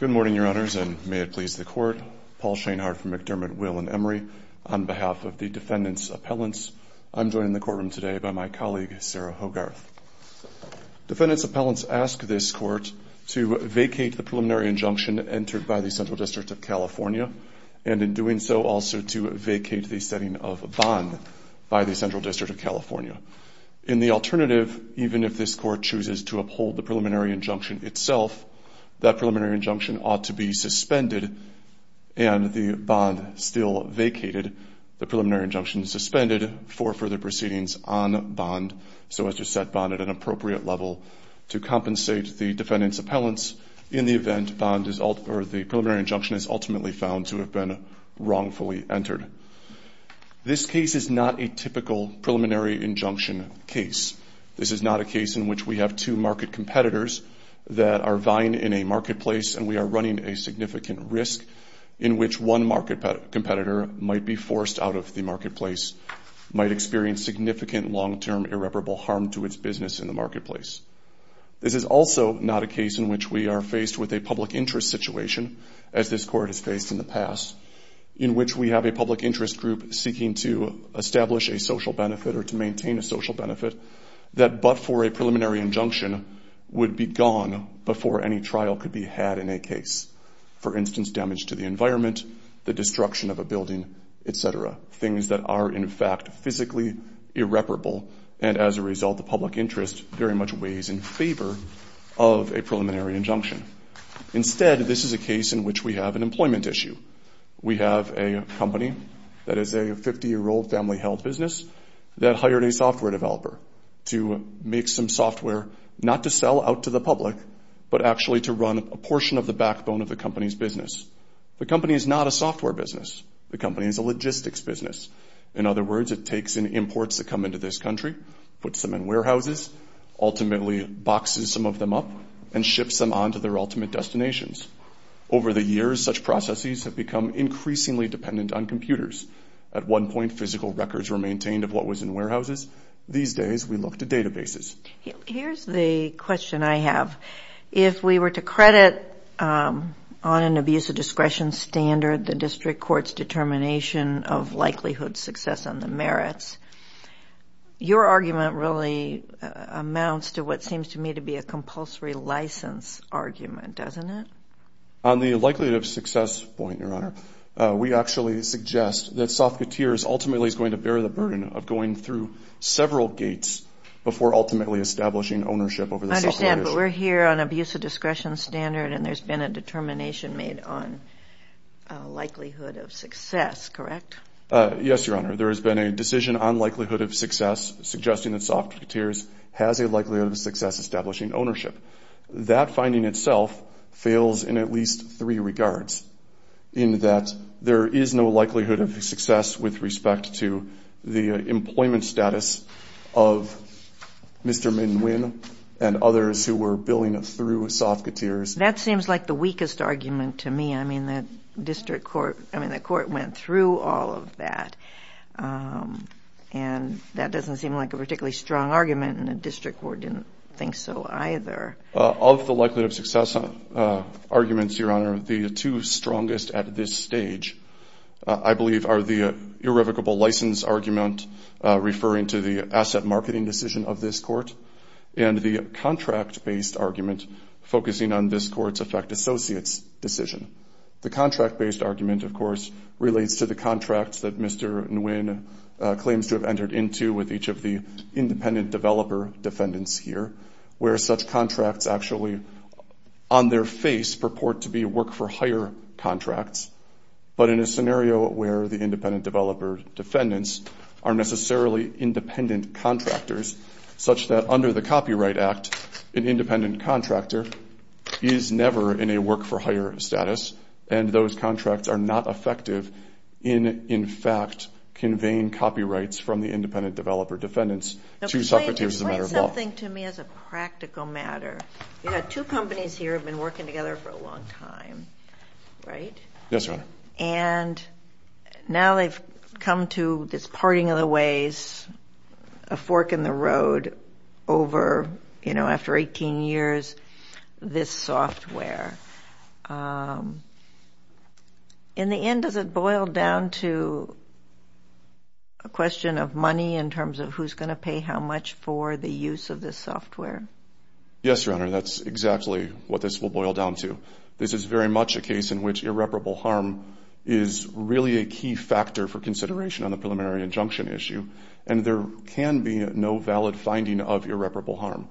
Good morning, Your Honors, and may it please the Court, Paul Shanehardt from McDermott Will and Emory, on behalf of the Defendant's Appellants. I'm joined in the courtroom today by my colleague, Sarah Hogarth. Defendant's Appellants ask this Court to vacate the preliminary injunction entered by the Central District of California, and in doing so, also to vacate the setting of a bond by the Central District of California. In the alternative, even if this Court chooses to uphold the preliminary injunction itself, that preliminary injunction ought to be suspended and the bond still vacated. The preliminary injunction is suspended for further proceedings on bond. So as you said, bond at an appropriate level to compensate the Defendant's Appellants in the event the preliminary injunction is ultimately found to have been wrongfully entered. This case is not a typical preliminary injunction case. This is not a case in which we have two market competitors that are vying in a marketplace and we are running a significant risk in which one market competitor might be forced out of the marketplace, might experience significant long-term irreparable harm to its business in the marketplace. This is also not a case in which we are faced with a public interest situation, as this is a case in which we have a public interest group seeking to establish a social benefit or to maintain a social benefit that, but for a preliminary injunction, would be gone before any trial could be had in a case. For instance, damage to the environment, the destruction of a building, et cetera. Things that are, in fact, physically irreparable, and as a result, the public interest very much weighs in favor of a preliminary injunction. Instead, this is a case in which we have an employment issue. We have a company that is a 50-year-old family-held business that hired a software developer to make some software, not to sell out to the public, but actually to run a portion of the backbone of the company's business. The company is not a software business. The company is a logistics business. In other words, it takes in imports that come into this country, puts them in warehouses, ultimately boxes some of them up, and ships them on to their ultimate destinations. Over the years, such processes have become increasingly dependent on computers. At one point, physical records were maintained of what was in warehouses. These days, we look to databases. Here's the question I have. If we were to credit on an abuse of discretion standard the district court's determination of likelihood success on the merits, your argument really amounts to what seems to me to be a compulsory license argument, doesn't it? On the likelihood of success point, Your Honor, we actually suggest that Soft Coutures ultimately is going to bear the burden of going through several gates before ultimately establishing ownership over the software industry. I understand, but we're here on abuse of discretion standard, and there's been a determination made on likelihood of success, correct? Yes, Your Honor. There has been a decision on likelihood of success suggesting that Soft Coutures has a likelihood of success establishing ownership. That finding itself fails in at least three regards, in that there is no likelihood of success with respect to the employment status of Mr. Min Win and others who were billing through Soft Coutures. That seems like the weakest argument to me. I mean, the district court, I mean, the court went through all of that, and that doesn't seem like a particularly strong argument, and the district court didn't think so either. Of the likelihood of success arguments, Your Honor, the two strongest at this stage I believe are the irrevocable license argument referring to the asset marketing decision of this court and the contract-based argument focusing on this court's effect associates decision. The contract-based argument, of course, relates to the contracts that Mr. Min Win claims to have entered into with each of the independent developer defendants here, where such contracts actually on their face purport to be work-for-hire contracts, but in a scenario where the independent developer defendants are necessarily independent contractors, such that under the Copyright Act, an independent contractor is never in a work-for-hire status, and those contracts are not effective in, in fact, conveying copyrights from the independent developer defendants to Soft Coutures as a matter of law. Now, explain something to me as a practical matter. You've got two companies here who have been working together for a long time, right? Yes, Your Honor. And now they've come to this parting of the ways, a fork in the road over, you know, after 18 years, this software. In the end, does it boil down to a question of money in terms of who's going to pay how much for the use of this software? Yes, Your Honor, that's exactly what this will boil down to. This is very much a case in which irreparable harm is really a key factor for consideration on the preliminary injunction issue, and there can be no valid finding of irreparable harm.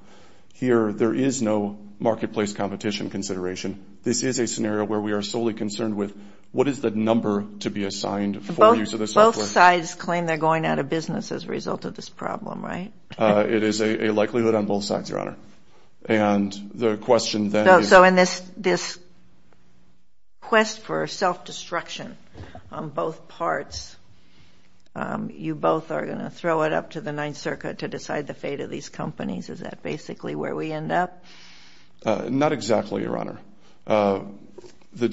Here, there is no marketplace competition consideration. This is a scenario where we are solely concerned with what is the number to be assigned for use of the software. Both sides claim they're going out of business as a result of this problem, right? It is a likelihood on both sides, Your Honor. And the question then is... So in this, this quest for self-destruction on both parts, you both are going to throw it up to the Ninth Circuit to decide the fate of these companies. Is that basically where we end up? Not exactly, Your Honor. On the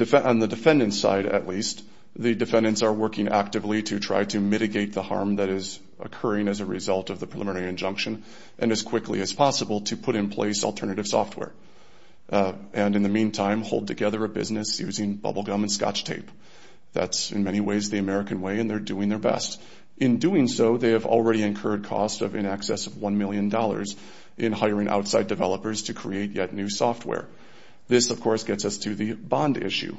defendant's side, at least, the defendants are working actively to try to mitigate the harm that is occurring as a result of the preliminary injunction, and as quickly as possible to put in place alternative software. And in the meantime, hold together a business using bubblegum and Scotch tape. That's in many ways the American way, and they're doing their best. In doing so, they have already incurred costs of in excess of $1 million in hiring outside developers to create yet new software. This of course gets us to the bond issue.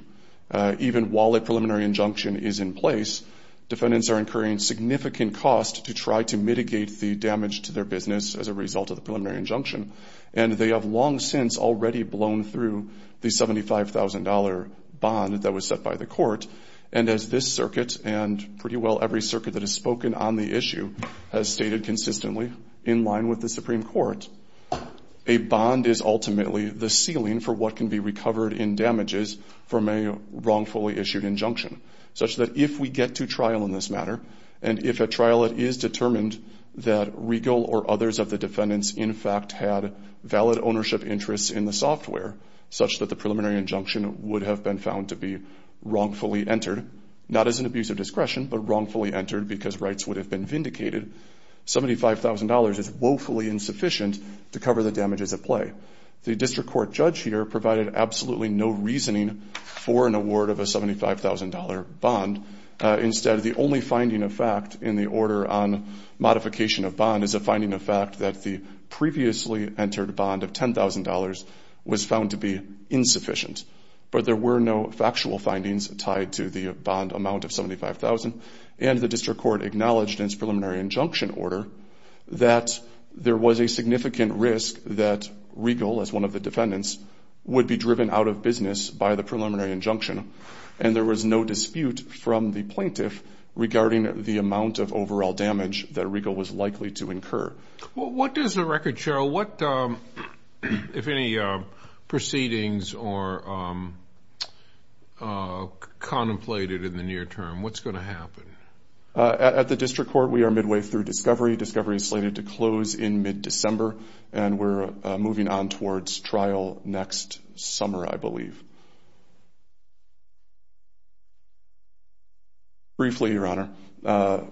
Even while a preliminary injunction is in place, defendants are incurring significant costs to try to mitigate the damage to their business as a result of the preliminary injunction, and they have long since already blown through the $75,000 bond that was set by the court. And as this circuit, and pretty well every circuit that has spoken on the issue, has stated consistently in line with the Supreme Court, a bond is ultimately the ceiling for what can be recovered in damages from a wrongfully issued injunction, such that if we get to trial in this matter, and if at trial it is determined that Regal or others of the defendants in fact had valid ownership interests in the software, such that the preliminary injunction would have been found to be wrongfully entered, not as an abuse of discretion, but wrongfully entered because rights would have been vindicated, $75,000 is woefully insufficient to cover the damages at play. The district court judge here provided absolutely no reasoning for an award of a $75,000 bond. Instead, the only finding of fact in the order on modification of bond is a finding of fact that the previously entered bond of $10,000 was found to be insufficient. But there were no factual findings tied to the bond amount of $75,000, and the district court acknowledged in its preliminary injunction order that there was a significant risk that Regal, as one of the defendants, would be driven out of business by the preliminary injunction, and there was no dispute from the plaintiff regarding the amount of overall damage that Regal was likely to incur. Well, what does the record show, if any proceedings are contemplated in the near term, what's going to happen? At the district court, we are midway through discovery. Discovery is slated to close in mid-December, and we're moving on towards trial next summer, I believe. Briefly, Your Honor,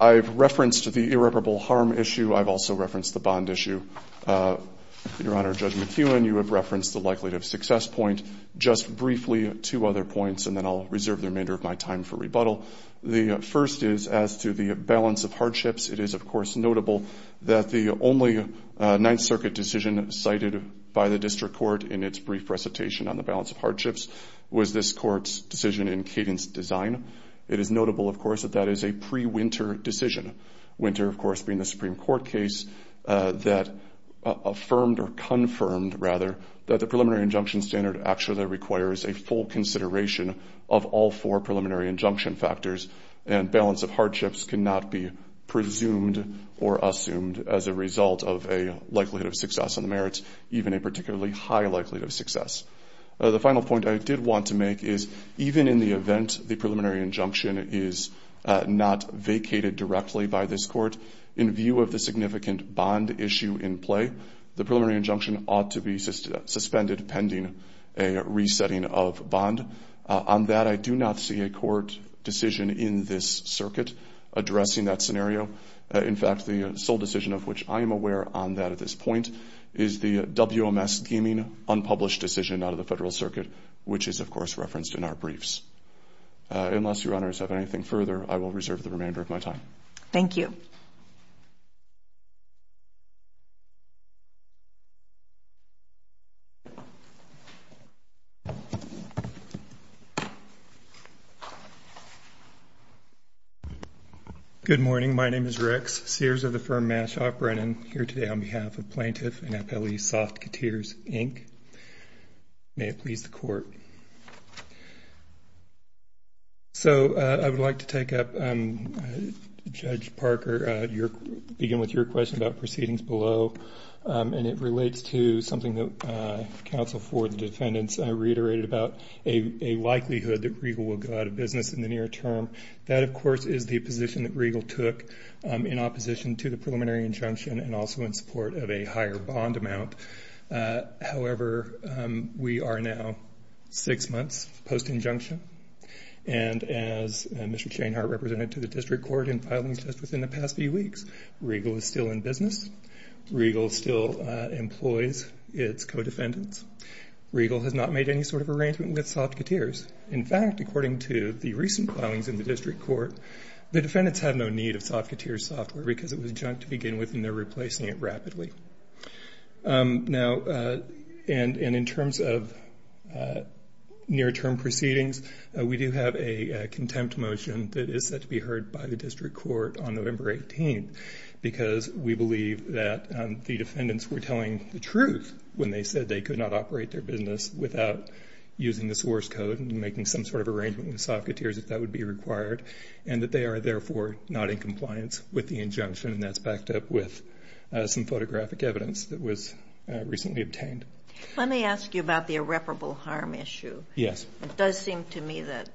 I've referenced the irreparable harm issue. I've also referenced the bond issue. Your Honor, Judge McKeown, you have referenced the likelihood of success point. Just briefly, two other points, and then I'll reserve the remainder of my time for rebuttal. The first is as to the balance of hardships. It is, of course, notable that the only Ninth Circuit decision cited by the district court in its brief recitation on the balance of hardships was this court's decision in cadence design. It is notable, of course, that that is a pre-Winter decision, Winter, of course, being the Supreme Court case that affirmed or confirmed, rather, that the preliminary injunction standard actually requires a full consideration of all four preliminary injunction factors, and balance of hardships cannot be presumed or assumed as a result of a likelihood of success on The final point I did want to make is, even in the event the preliminary injunction is not vacated directly by this court, in view of the significant bond issue in play, the preliminary injunction ought to be suspended pending a resetting of bond. On that, I do not see a court decision in this circuit addressing that scenario. In fact, the sole decision of which I am aware on that at this point is the WMS deeming unpublished decision out of the Federal Circuit, which is, of course, referenced in our briefs. Unless your honors have anything further, I will reserve the remainder of my time. Thank you. Good morning. My name is Rex Sears of the firm Mashop Brennan, here today on behalf of plaintiff and appellee Soft Coutures, Inc. May it please the court. So I would like to take up, Judge Parker, begin with your question about proceedings below, and it relates to something that counsel for the defendants reiterated about, a likelihood that Regal will go out of business in the near term. That, of course, is the position that Regal took in opposition to the preliminary injunction and also in support of a higher bond amount. However, we are now six months post-injunction, and as Mr. Chainhart represented to the district court in filings just within the past few weeks, Regal is still in business. Regal still employs its co-defendants. Regal has not made any sort of arrangement with Soft Coutures. In fact, according to the recent filings in the district court, the defendants have no need of Soft Coutures software because it was junk to begin with and they're replacing it rapidly. And in terms of near-term proceedings, we do have a contempt motion that is set to be heard by the district court on November 18th because we believe that the defendants were telling the truth when they said they could not operate their business without using the source code and making some sort of arrangement with Soft Coutures if that would be required, and that they are therefore not in compliance with the injunction, and that's backed up with some photographic evidence that was recently obtained. Let me ask you about the irreparable harm issue. Yes. It does seem to me that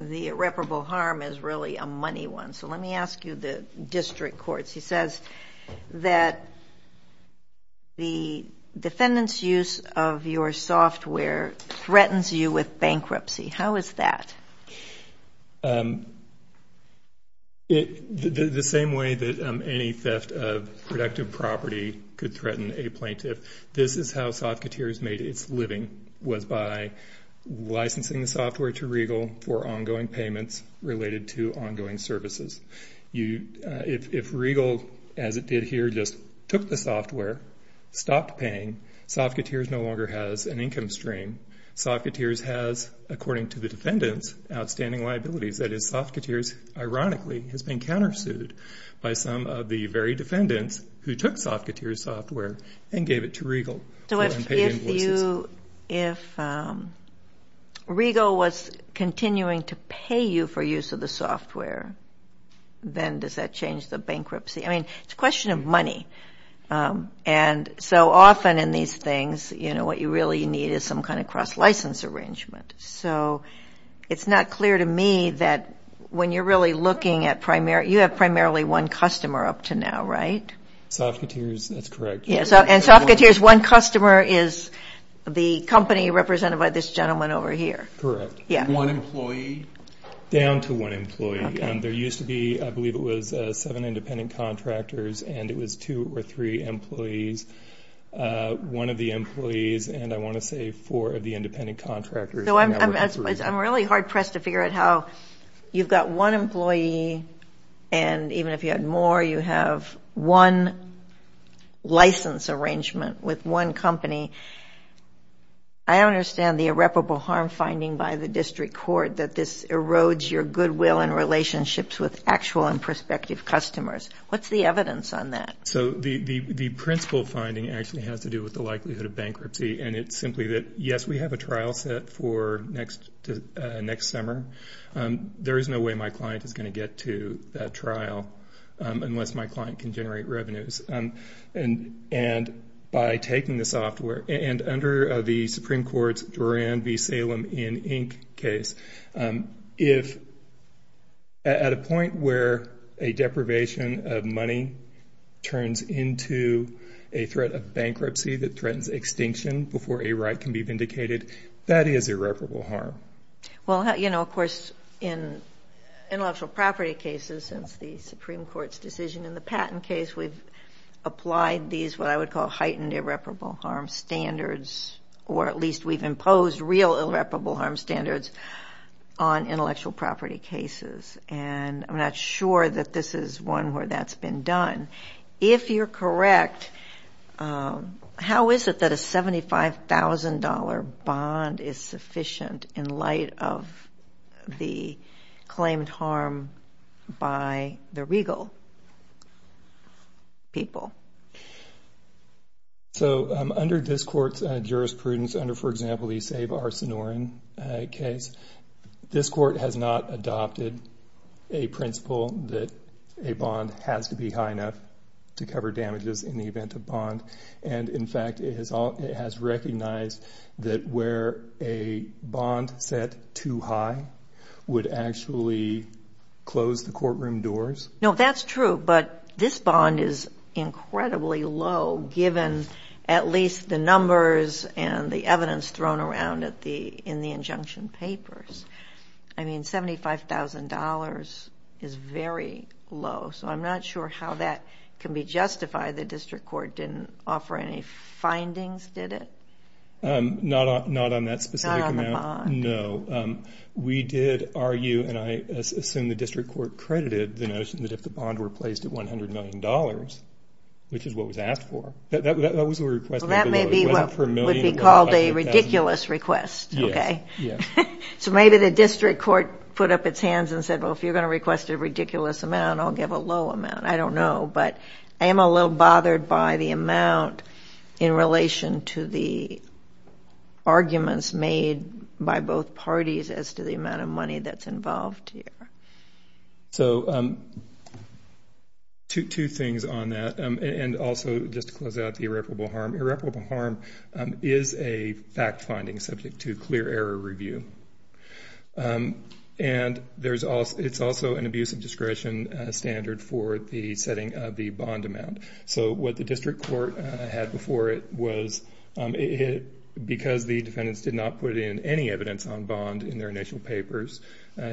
the irreparable harm is really a money one, so let me ask you the district courts. He says that the defendant's use of your software threatens you with bankruptcy. How is that? The same way that any theft of productive property could threaten a plaintiff. This is how Soft Coutures made its living, was by licensing the software to Regal for ongoing payments related to ongoing services. If Regal, as it did here, just took the software, stopped paying, Soft Coutures no longer has an income stream. Soft Coutures has, according to the defendants, outstanding liabilities. That is, Soft Coutures, ironically, has been countersued by some of the very defendants who took Soft Coutures' software and gave it to Regal for unpaid invoices. So if Regal was continuing to pay you for use of the software, then does that change the bankruptcy? I mean, it's a question of money, and so often in these things, you know, what you really need is some kind of cross-license arrangement. So it's not clear to me that when you're really looking at primary, you have primarily one customer up to now, right? Soft Coutures, that's correct. And Soft Coutures, one customer is the company represented by this gentleman over here. Correct. One employee? Down to one employee. There used to be, I believe it was seven independent contractors, and it was two or three employees. One of the employees, and I want to say four of the independent contractors. So I'm really hard-pressed to figure out how you've got one employee, and even if you had more, you have one license arrangement with one company. I don't understand the irreparable harm finding by the district court that this erodes your goodwill and relationships with actual and prospective customers. What's the evidence on that? So, the principal finding actually has to do with the likelihood of bankruptcy, and it's simply that, yes, we have a trial set for next summer. There is no way my client is going to get to that trial unless my client can generate revenues. And by taking the software, and under the Supreme Court's Duran v. Salem in Inc. case, if at a point where a deprivation of money turns into a threat of bankruptcy that threatens extinction before a right can be vindicated, that is irreparable harm. Well, you know, of course, in intellectual property cases, since the Supreme Court's decision in the patent case, we've applied these what I would call heightened irreparable harm standards, or at least we've imposed real irreparable harm standards on intellectual property cases. And I'm not sure that this is one where that's been done. If you're correct, how is it that a $75,000 bond is sufficient in light of the claimed harm by the regal people? So under this Court's jurisprudence, under, for example, the Save Our Sonoran case, this Court has not adopted a principle that a bond has to be high enough to cover damages in the event of bond. And, in fact, it has recognized that where a bond set too high would actually close the courtroom doors. No, that's true. But this bond is incredibly low, given at least the numbers and the evidence thrown around in the injunction papers. I mean, $75,000 is very low. So I'm not sure how that can be justified. The district court didn't offer any findings, did it? Not on that specific amount. Not on the bond. No. We did argue, and I assume the district court credited the notion that if the bond were placed at $100 million, which is what was asked for, that that was a request. Well, that may be what would be called a ridiculous request, okay? Yes, yes. So maybe the district court put up its hands and said, well, if you're going to request a ridiculous amount, I'll give a low amount. I don't know. But I am a little bothered by the amount in relation to the arguments made by both parties as to the amount of money that's involved here. So two things on that, and also just to close out the irreparable harm. Irreparable harm is a fact-finding subject to clear error review. And it's also an abuse of discretion standard for the setting of the bond amount. So what the district court had before it was because the defendants did not put in any evidence on bond in their initial papers,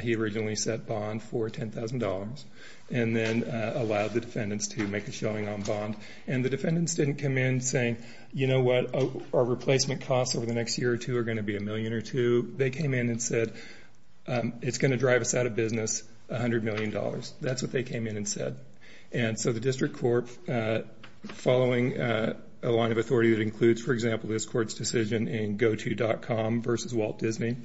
he originally set bond for $10,000 and then allowed the defendants to make a showing on bond. And the defendants didn't come in saying, you know what? Our replacement costs over the next year or two are going to be a million or two. They came in and said, it's going to drive us out of business $100 million. That's what they came in and said. And so the district court, following a line of authority that includes, for example, this court's decision in GoTo.com versus Walt Disney,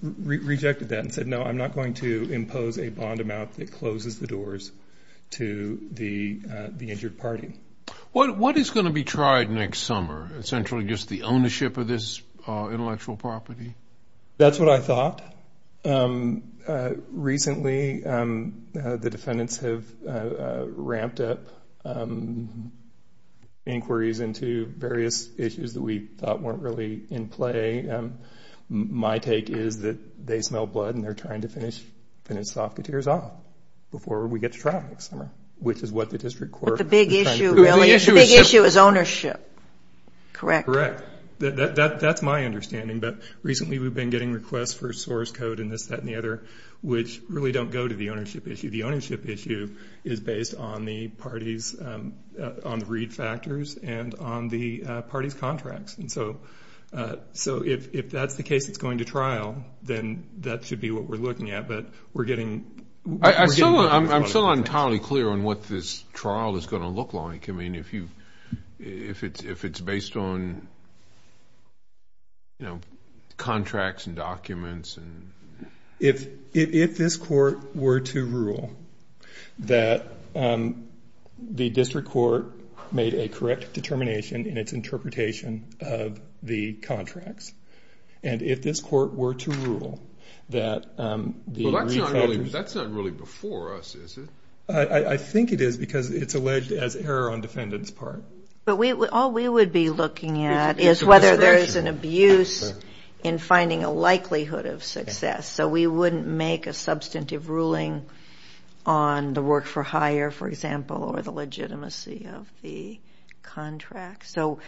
rejected that and said, no, I'm not going to impose a bond amount that closes the doors to the injured party. What is going to be tried next summer? Essentially just the ownership of this intellectual property? That's what I thought. Recently the defendants have ramped up inquiries into various issues that we thought weren't really in play. My take is that they smell blood and they're trying to finish Sofketeers off before we get to trial next summer, which is what the district court is trying to do. The big issue is ownership, correct? Correct. That's my understanding. But recently we've been getting requests for source code and this, that, and the other, which really don't go to the ownership issue. The ownership issue is based on the parties' read factors and on the parties' contracts. And so if that's the case that's going to trial, then that should be what we're looking at. I'm still not entirely clear on what this trial is going to look like. I mean, if it's based on, you know, contracts and documents. If this court were to rule that the district court made a correct determination in its That's not really before us, is it? I think it is because it's alleged as error on defendant's part. But all we would be looking at is whether there's an abuse in finding a likelihood of success. So we wouldn't make a substantive ruling on the work for hire, for example, or the legitimacy of the contract. So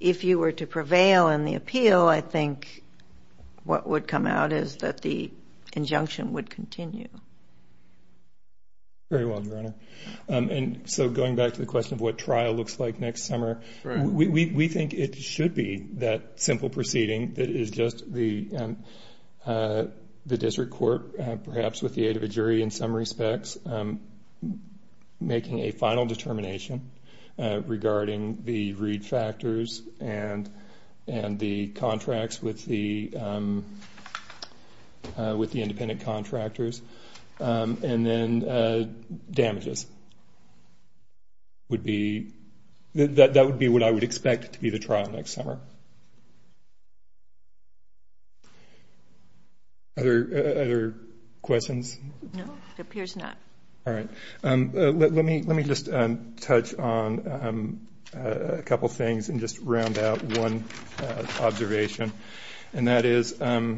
if you were to prevail in the appeal, I think what would come out is that the injunction would continue. Very well, Your Honor. And so going back to the question of what trial looks like next summer, we think it should be that simple proceeding that is just the district court, perhaps with the aid of a jury in some respects, making a final determination regarding the read factors and the contracts with the independent contractors, and then damages. That would be what I would expect to be the trial next summer. Other questions? No, it appears not. All right. Let me just touch on a couple things and just round out one observation. And that is I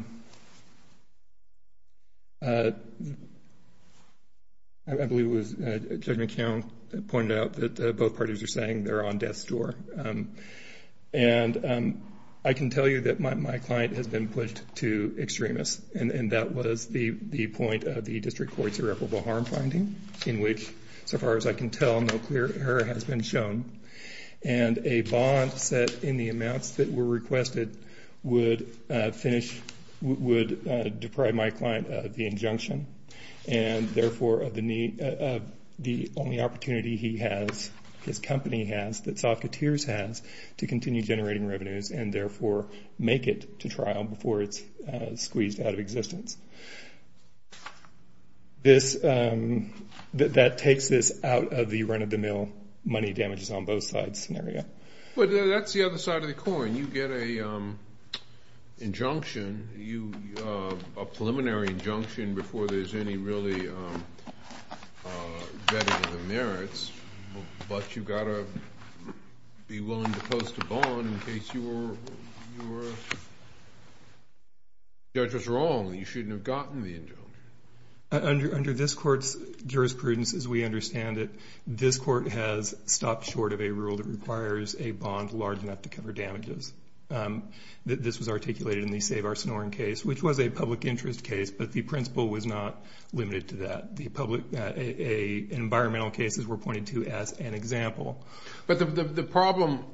believe it was Judge McKeown pointed out that both parties are saying they're on death's door. And I can tell you that my client has been pushed to extremists, and that was the point of the district court's irreparable harm finding in which, so far as I can tell, no clear error has been shown. And a bond set in the amounts that were requested would finish, would deprive my client of the injunction, and therefore of the only opportunity he has, his company has, that Soft Coutures has, to continue generating revenues and, therefore, make it to trial before it's squeezed out of existence. That takes this out of the run-of-the-mill money damages on both sides scenario. But that's the other side of the coin. You get an injunction, a preliminary injunction before there's any really vetting of the merits, but you've got to be willing to post a bond in case your judge was wrong and you shouldn't have gotten the injunction. Under this court's jurisprudence, as we understand it, this court has stopped short of a rule that requires a bond large enough to cover damages. This was articulated in the Save Our Sonoran case, which was a public interest case, but the principle was not limited to that. The public environmental cases were pointed to as an example. But the problem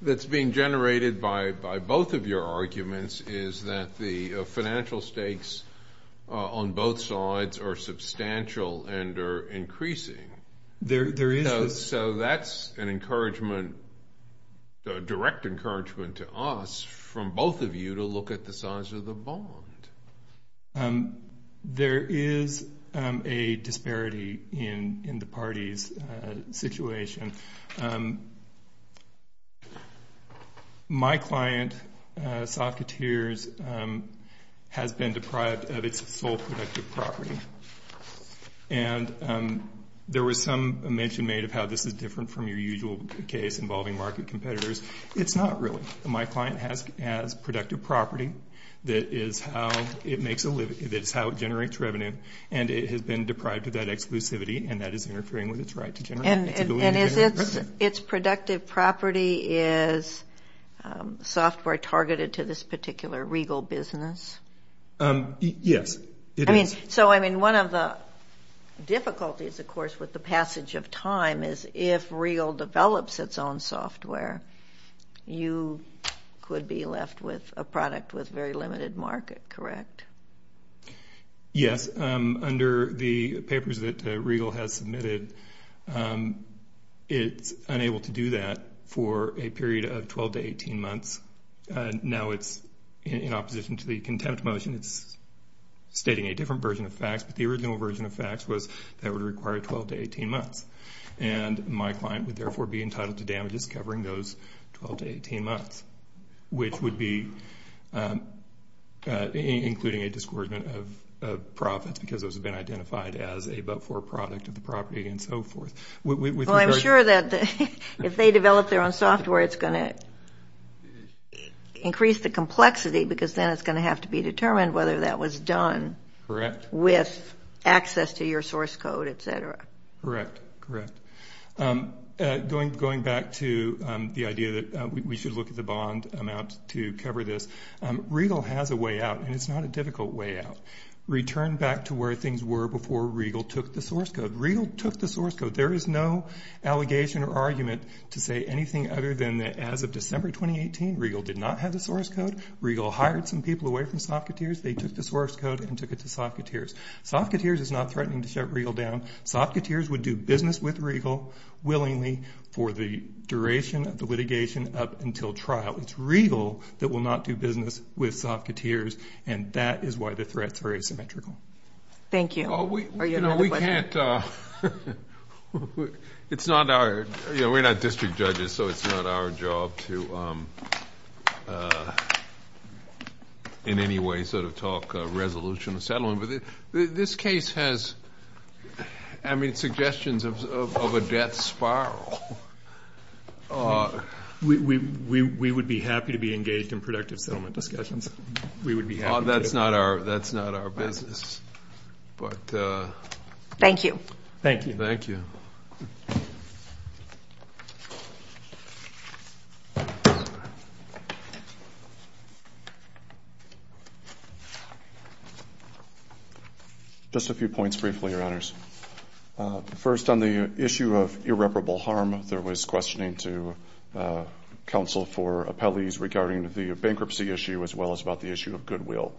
that's being generated by both of your arguments is that the financial stakes on both sides are substantial and are increasing. There is. So that's an encouragement, a direct encouragement to us from both of you to look at the size of the bond. There is a disparity in the parties' situation. My client, Socketeers, has been deprived of its sole productive property. And there was some mention made of how this is different from your usual case involving market competitors. It's not really. My client has productive property that is how it generates revenue, and it has been deprived of that exclusivity, and that is interfering with its right to generate revenue. And its productive property is software targeted to this particular Regal business? Yes, it is. So one of the difficulties, of course, with the passage of time is if Regal develops its own software, you could be left with a product with very limited market, correct? Yes. Under the papers that Regal has submitted, it's unable to do that for a period of 12 to 18 months. Now it's in opposition to the contempt motion. It's stating a different version of facts, but the original version of facts was that it would require 12 to 18 months. And my client would, therefore, be entitled to damages covering those 12 to 18 months, which would be including a discouragement of profits because those have been identified as a but-for product of the property and so forth. Well, I'm sure that if they develop their own software, it's going to increase the complexity because then it's going to have to be determined whether that was done with access to your source code, et cetera. Correct, correct. Going back to the idea that we should look at the bond amount to cover this, Regal has a way out, and it's not a difficult way out. Return back to where things were before Regal took the source code. Regal took the source code. There is no allegation or argument to say anything other than that as of December 2018, Regal did not have the source code. Regal hired some people away from Softcoteers. They took the source code and took it to Softcoteers. Softcoteers is not threatening to shut Regal down. Softcoteers would do business with Regal willingly for the duration of the litigation up until trial. It's Regal that will not do business with Softcoteers, and that is why the threat is very symmetrical. Thank you. We can't – it's not our – we're not district judges, so it's not our job to in any way sort of talk resolution or settlement. But this case has, I mean, suggestions of a debt spiral. We would be happy to be engaged in productive settlement discussions. We would be happy to. That's not our business. Thank you. Thank you. Thank you. Just a few points briefly, Your Honors. First, on the issue of irreparable harm, there was questioning to counsel for appellees regarding the bankruptcy issue as well as about the issue of goodwill.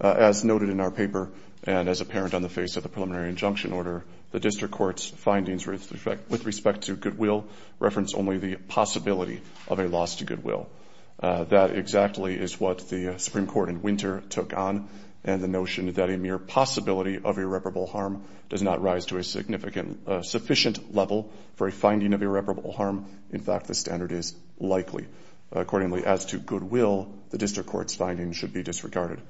As noted in our paper and as apparent on the face of the preliminary injunction order, the district court's findings with respect to goodwill reference only the possibility of a loss to goodwill. That exactly is what the Supreme Court in winter took on, and the notion that a mere possibility of irreparable harm does not rise to a significant sufficient level for a finding of irreparable harm. In fact, the standard is likely. Accordingly, as to goodwill, the district court's findings should be disregarded.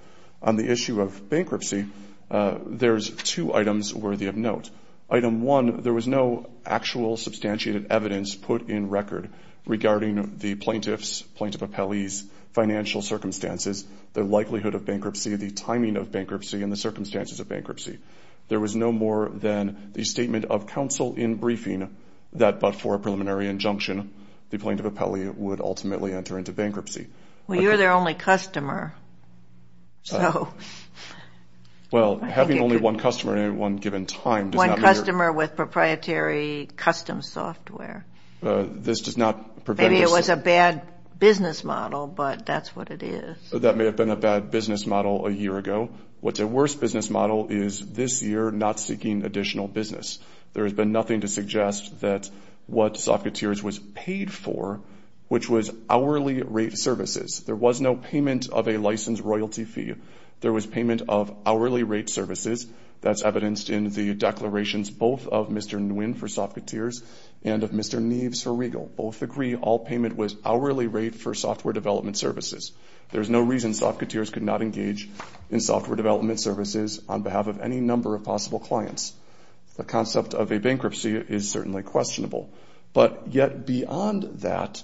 On the issue of bankruptcy, there's two items worthy of note. Item one, there was no actual substantiated evidence put in record regarding the plaintiff's, plaintiff appellee's financial circumstances, the likelihood of bankruptcy, the timing of bankruptcy, and the circumstances of bankruptcy. There was no more than the statement of counsel in briefing that but for a preliminary injunction, the plaintiff appellee would ultimately enter into bankruptcy. Well, you're their only customer, so. Well, having only one customer at one given time does not. One customer with proprietary custom software. This does not prevent. Maybe it was a bad business model, but that's what it is. That may have been a bad business model a year ago. What's a worse business model is this year not seeking additional business. There has been nothing to suggest that what Soft Coutures was paid for, which was hourly rate services. There was no payment of a licensed royalty fee. There was payment of hourly rate services. That's evidenced in the declarations both of Mr. Nguyen for Soft Coutures and of Mr. Neves for Regal. Both agree all payment was hourly rate for software development services. There's no reason Soft Coutures could not engage in software development services on behalf of any number of possible clients. The concept of a bankruptcy is certainly questionable. But yet beyond that,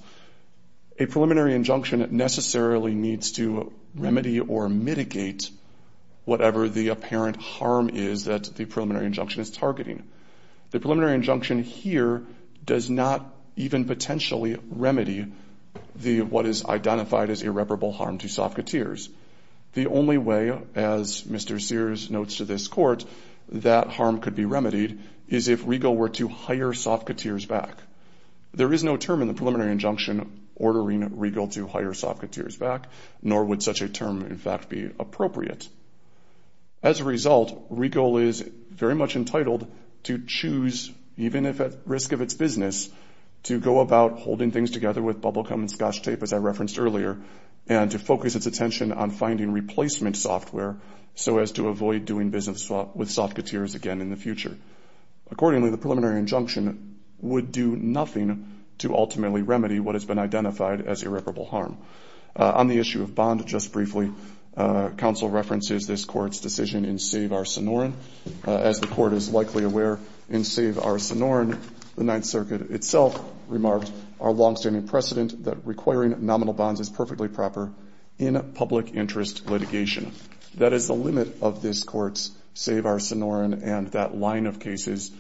a preliminary injunction necessarily needs to remedy or mitigate whatever the apparent harm is that the preliminary injunction is targeting. The preliminary injunction here does not even potentially remedy what is identified as irreparable harm to Soft Coutures. The only way, as Mr. Sears notes to this court, that harm could be remedied, is if Regal were to hire Soft Coutures back. There is no term in the preliminary injunction ordering Regal to hire Soft Coutures back, nor would such a term in fact be appropriate. As a result, Regal is very much entitled to choose, even if at risk of its business, to go about holding things together with bubble gum and scotch tape, as I referenced earlier, and to focus its attention on finding replacement software so as to avoid doing business with Soft Coutures again in the future. Accordingly, the preliminary injunction would do nothing to ultimately remedy what has been identified as irreparable harm. On the issue of bond, just briefly, counsel references this court's decision in Save Our Sonoran. As the court is likely aware, in Save Our Sonoran, the Ninth Circuit itself remarked our longstanding precedent that requiring nominal bonds is perfectly proper in public interest litigation. That is the limit of this court's Save Our Sonoran and that line of cases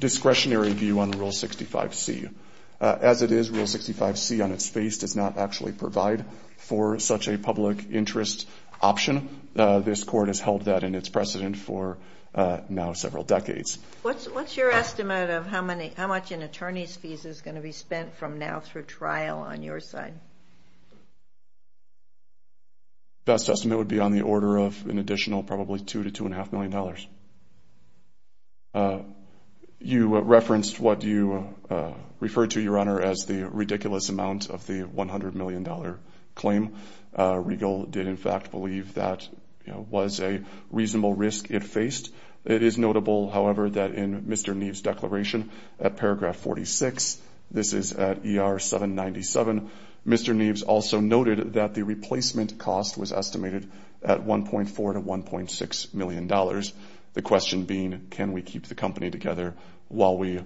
discretionary view on Rule 65C. As it is, Rule 65C on its face does not actually provide for such a public interest option. This court has held that in its precedent for now several decades. What's your estimate of how much an attorney's fees is going to be spent from now through trial on your side? Best estimate would be on the order of an additional probably $2 to $2.5 million. You referenced what you referred to, Your Honor, as the ridiculous amount of the $100 million claim. Regal did, in fact, believe that was a reasonable risk it faced. It is notable, however, that in Mr. Neves' declaration at paragraph 46, this is at ER 797, Mr. Neves also noted that the replacement cost was estimated at $1.4 to $1.6 million, the question being can we keep the company together while we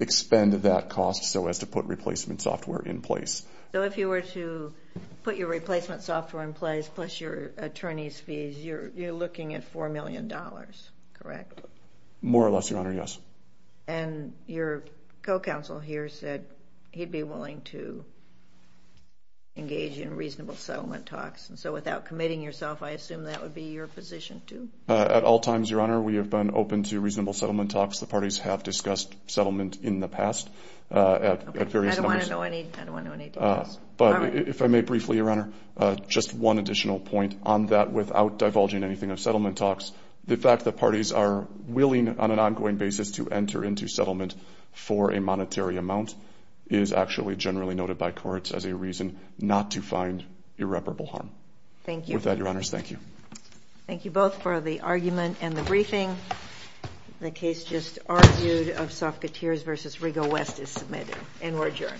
expend that cost so as to put replacement software in place. So if you were to put your replacement software in place plus your attorney's fees, you're looking at $4 million, correct? More or less, Your Honor, yes. And your co-counsel here said he'd be willing to engage in reasonable settlement talks. And so without committing yourself, I assume that would be your position too? At all times, Your Honor, we have been open to reasonable settlement talks. I don't want to know any details. But if I may briefly, Your Honor, just one additional point on that without divulging anything of settlement talks, the fact that parties are willing on an ongoing basis to enter into settlement for a monetary amount is actually generally noted by courts as a reason not to find irreparable harm. Thank you. With that, Your Honors, thank you. Thank you both for the argument and the briefing. The case just argued of Sofketeers v. Rigo West is submitted and we're adjourned.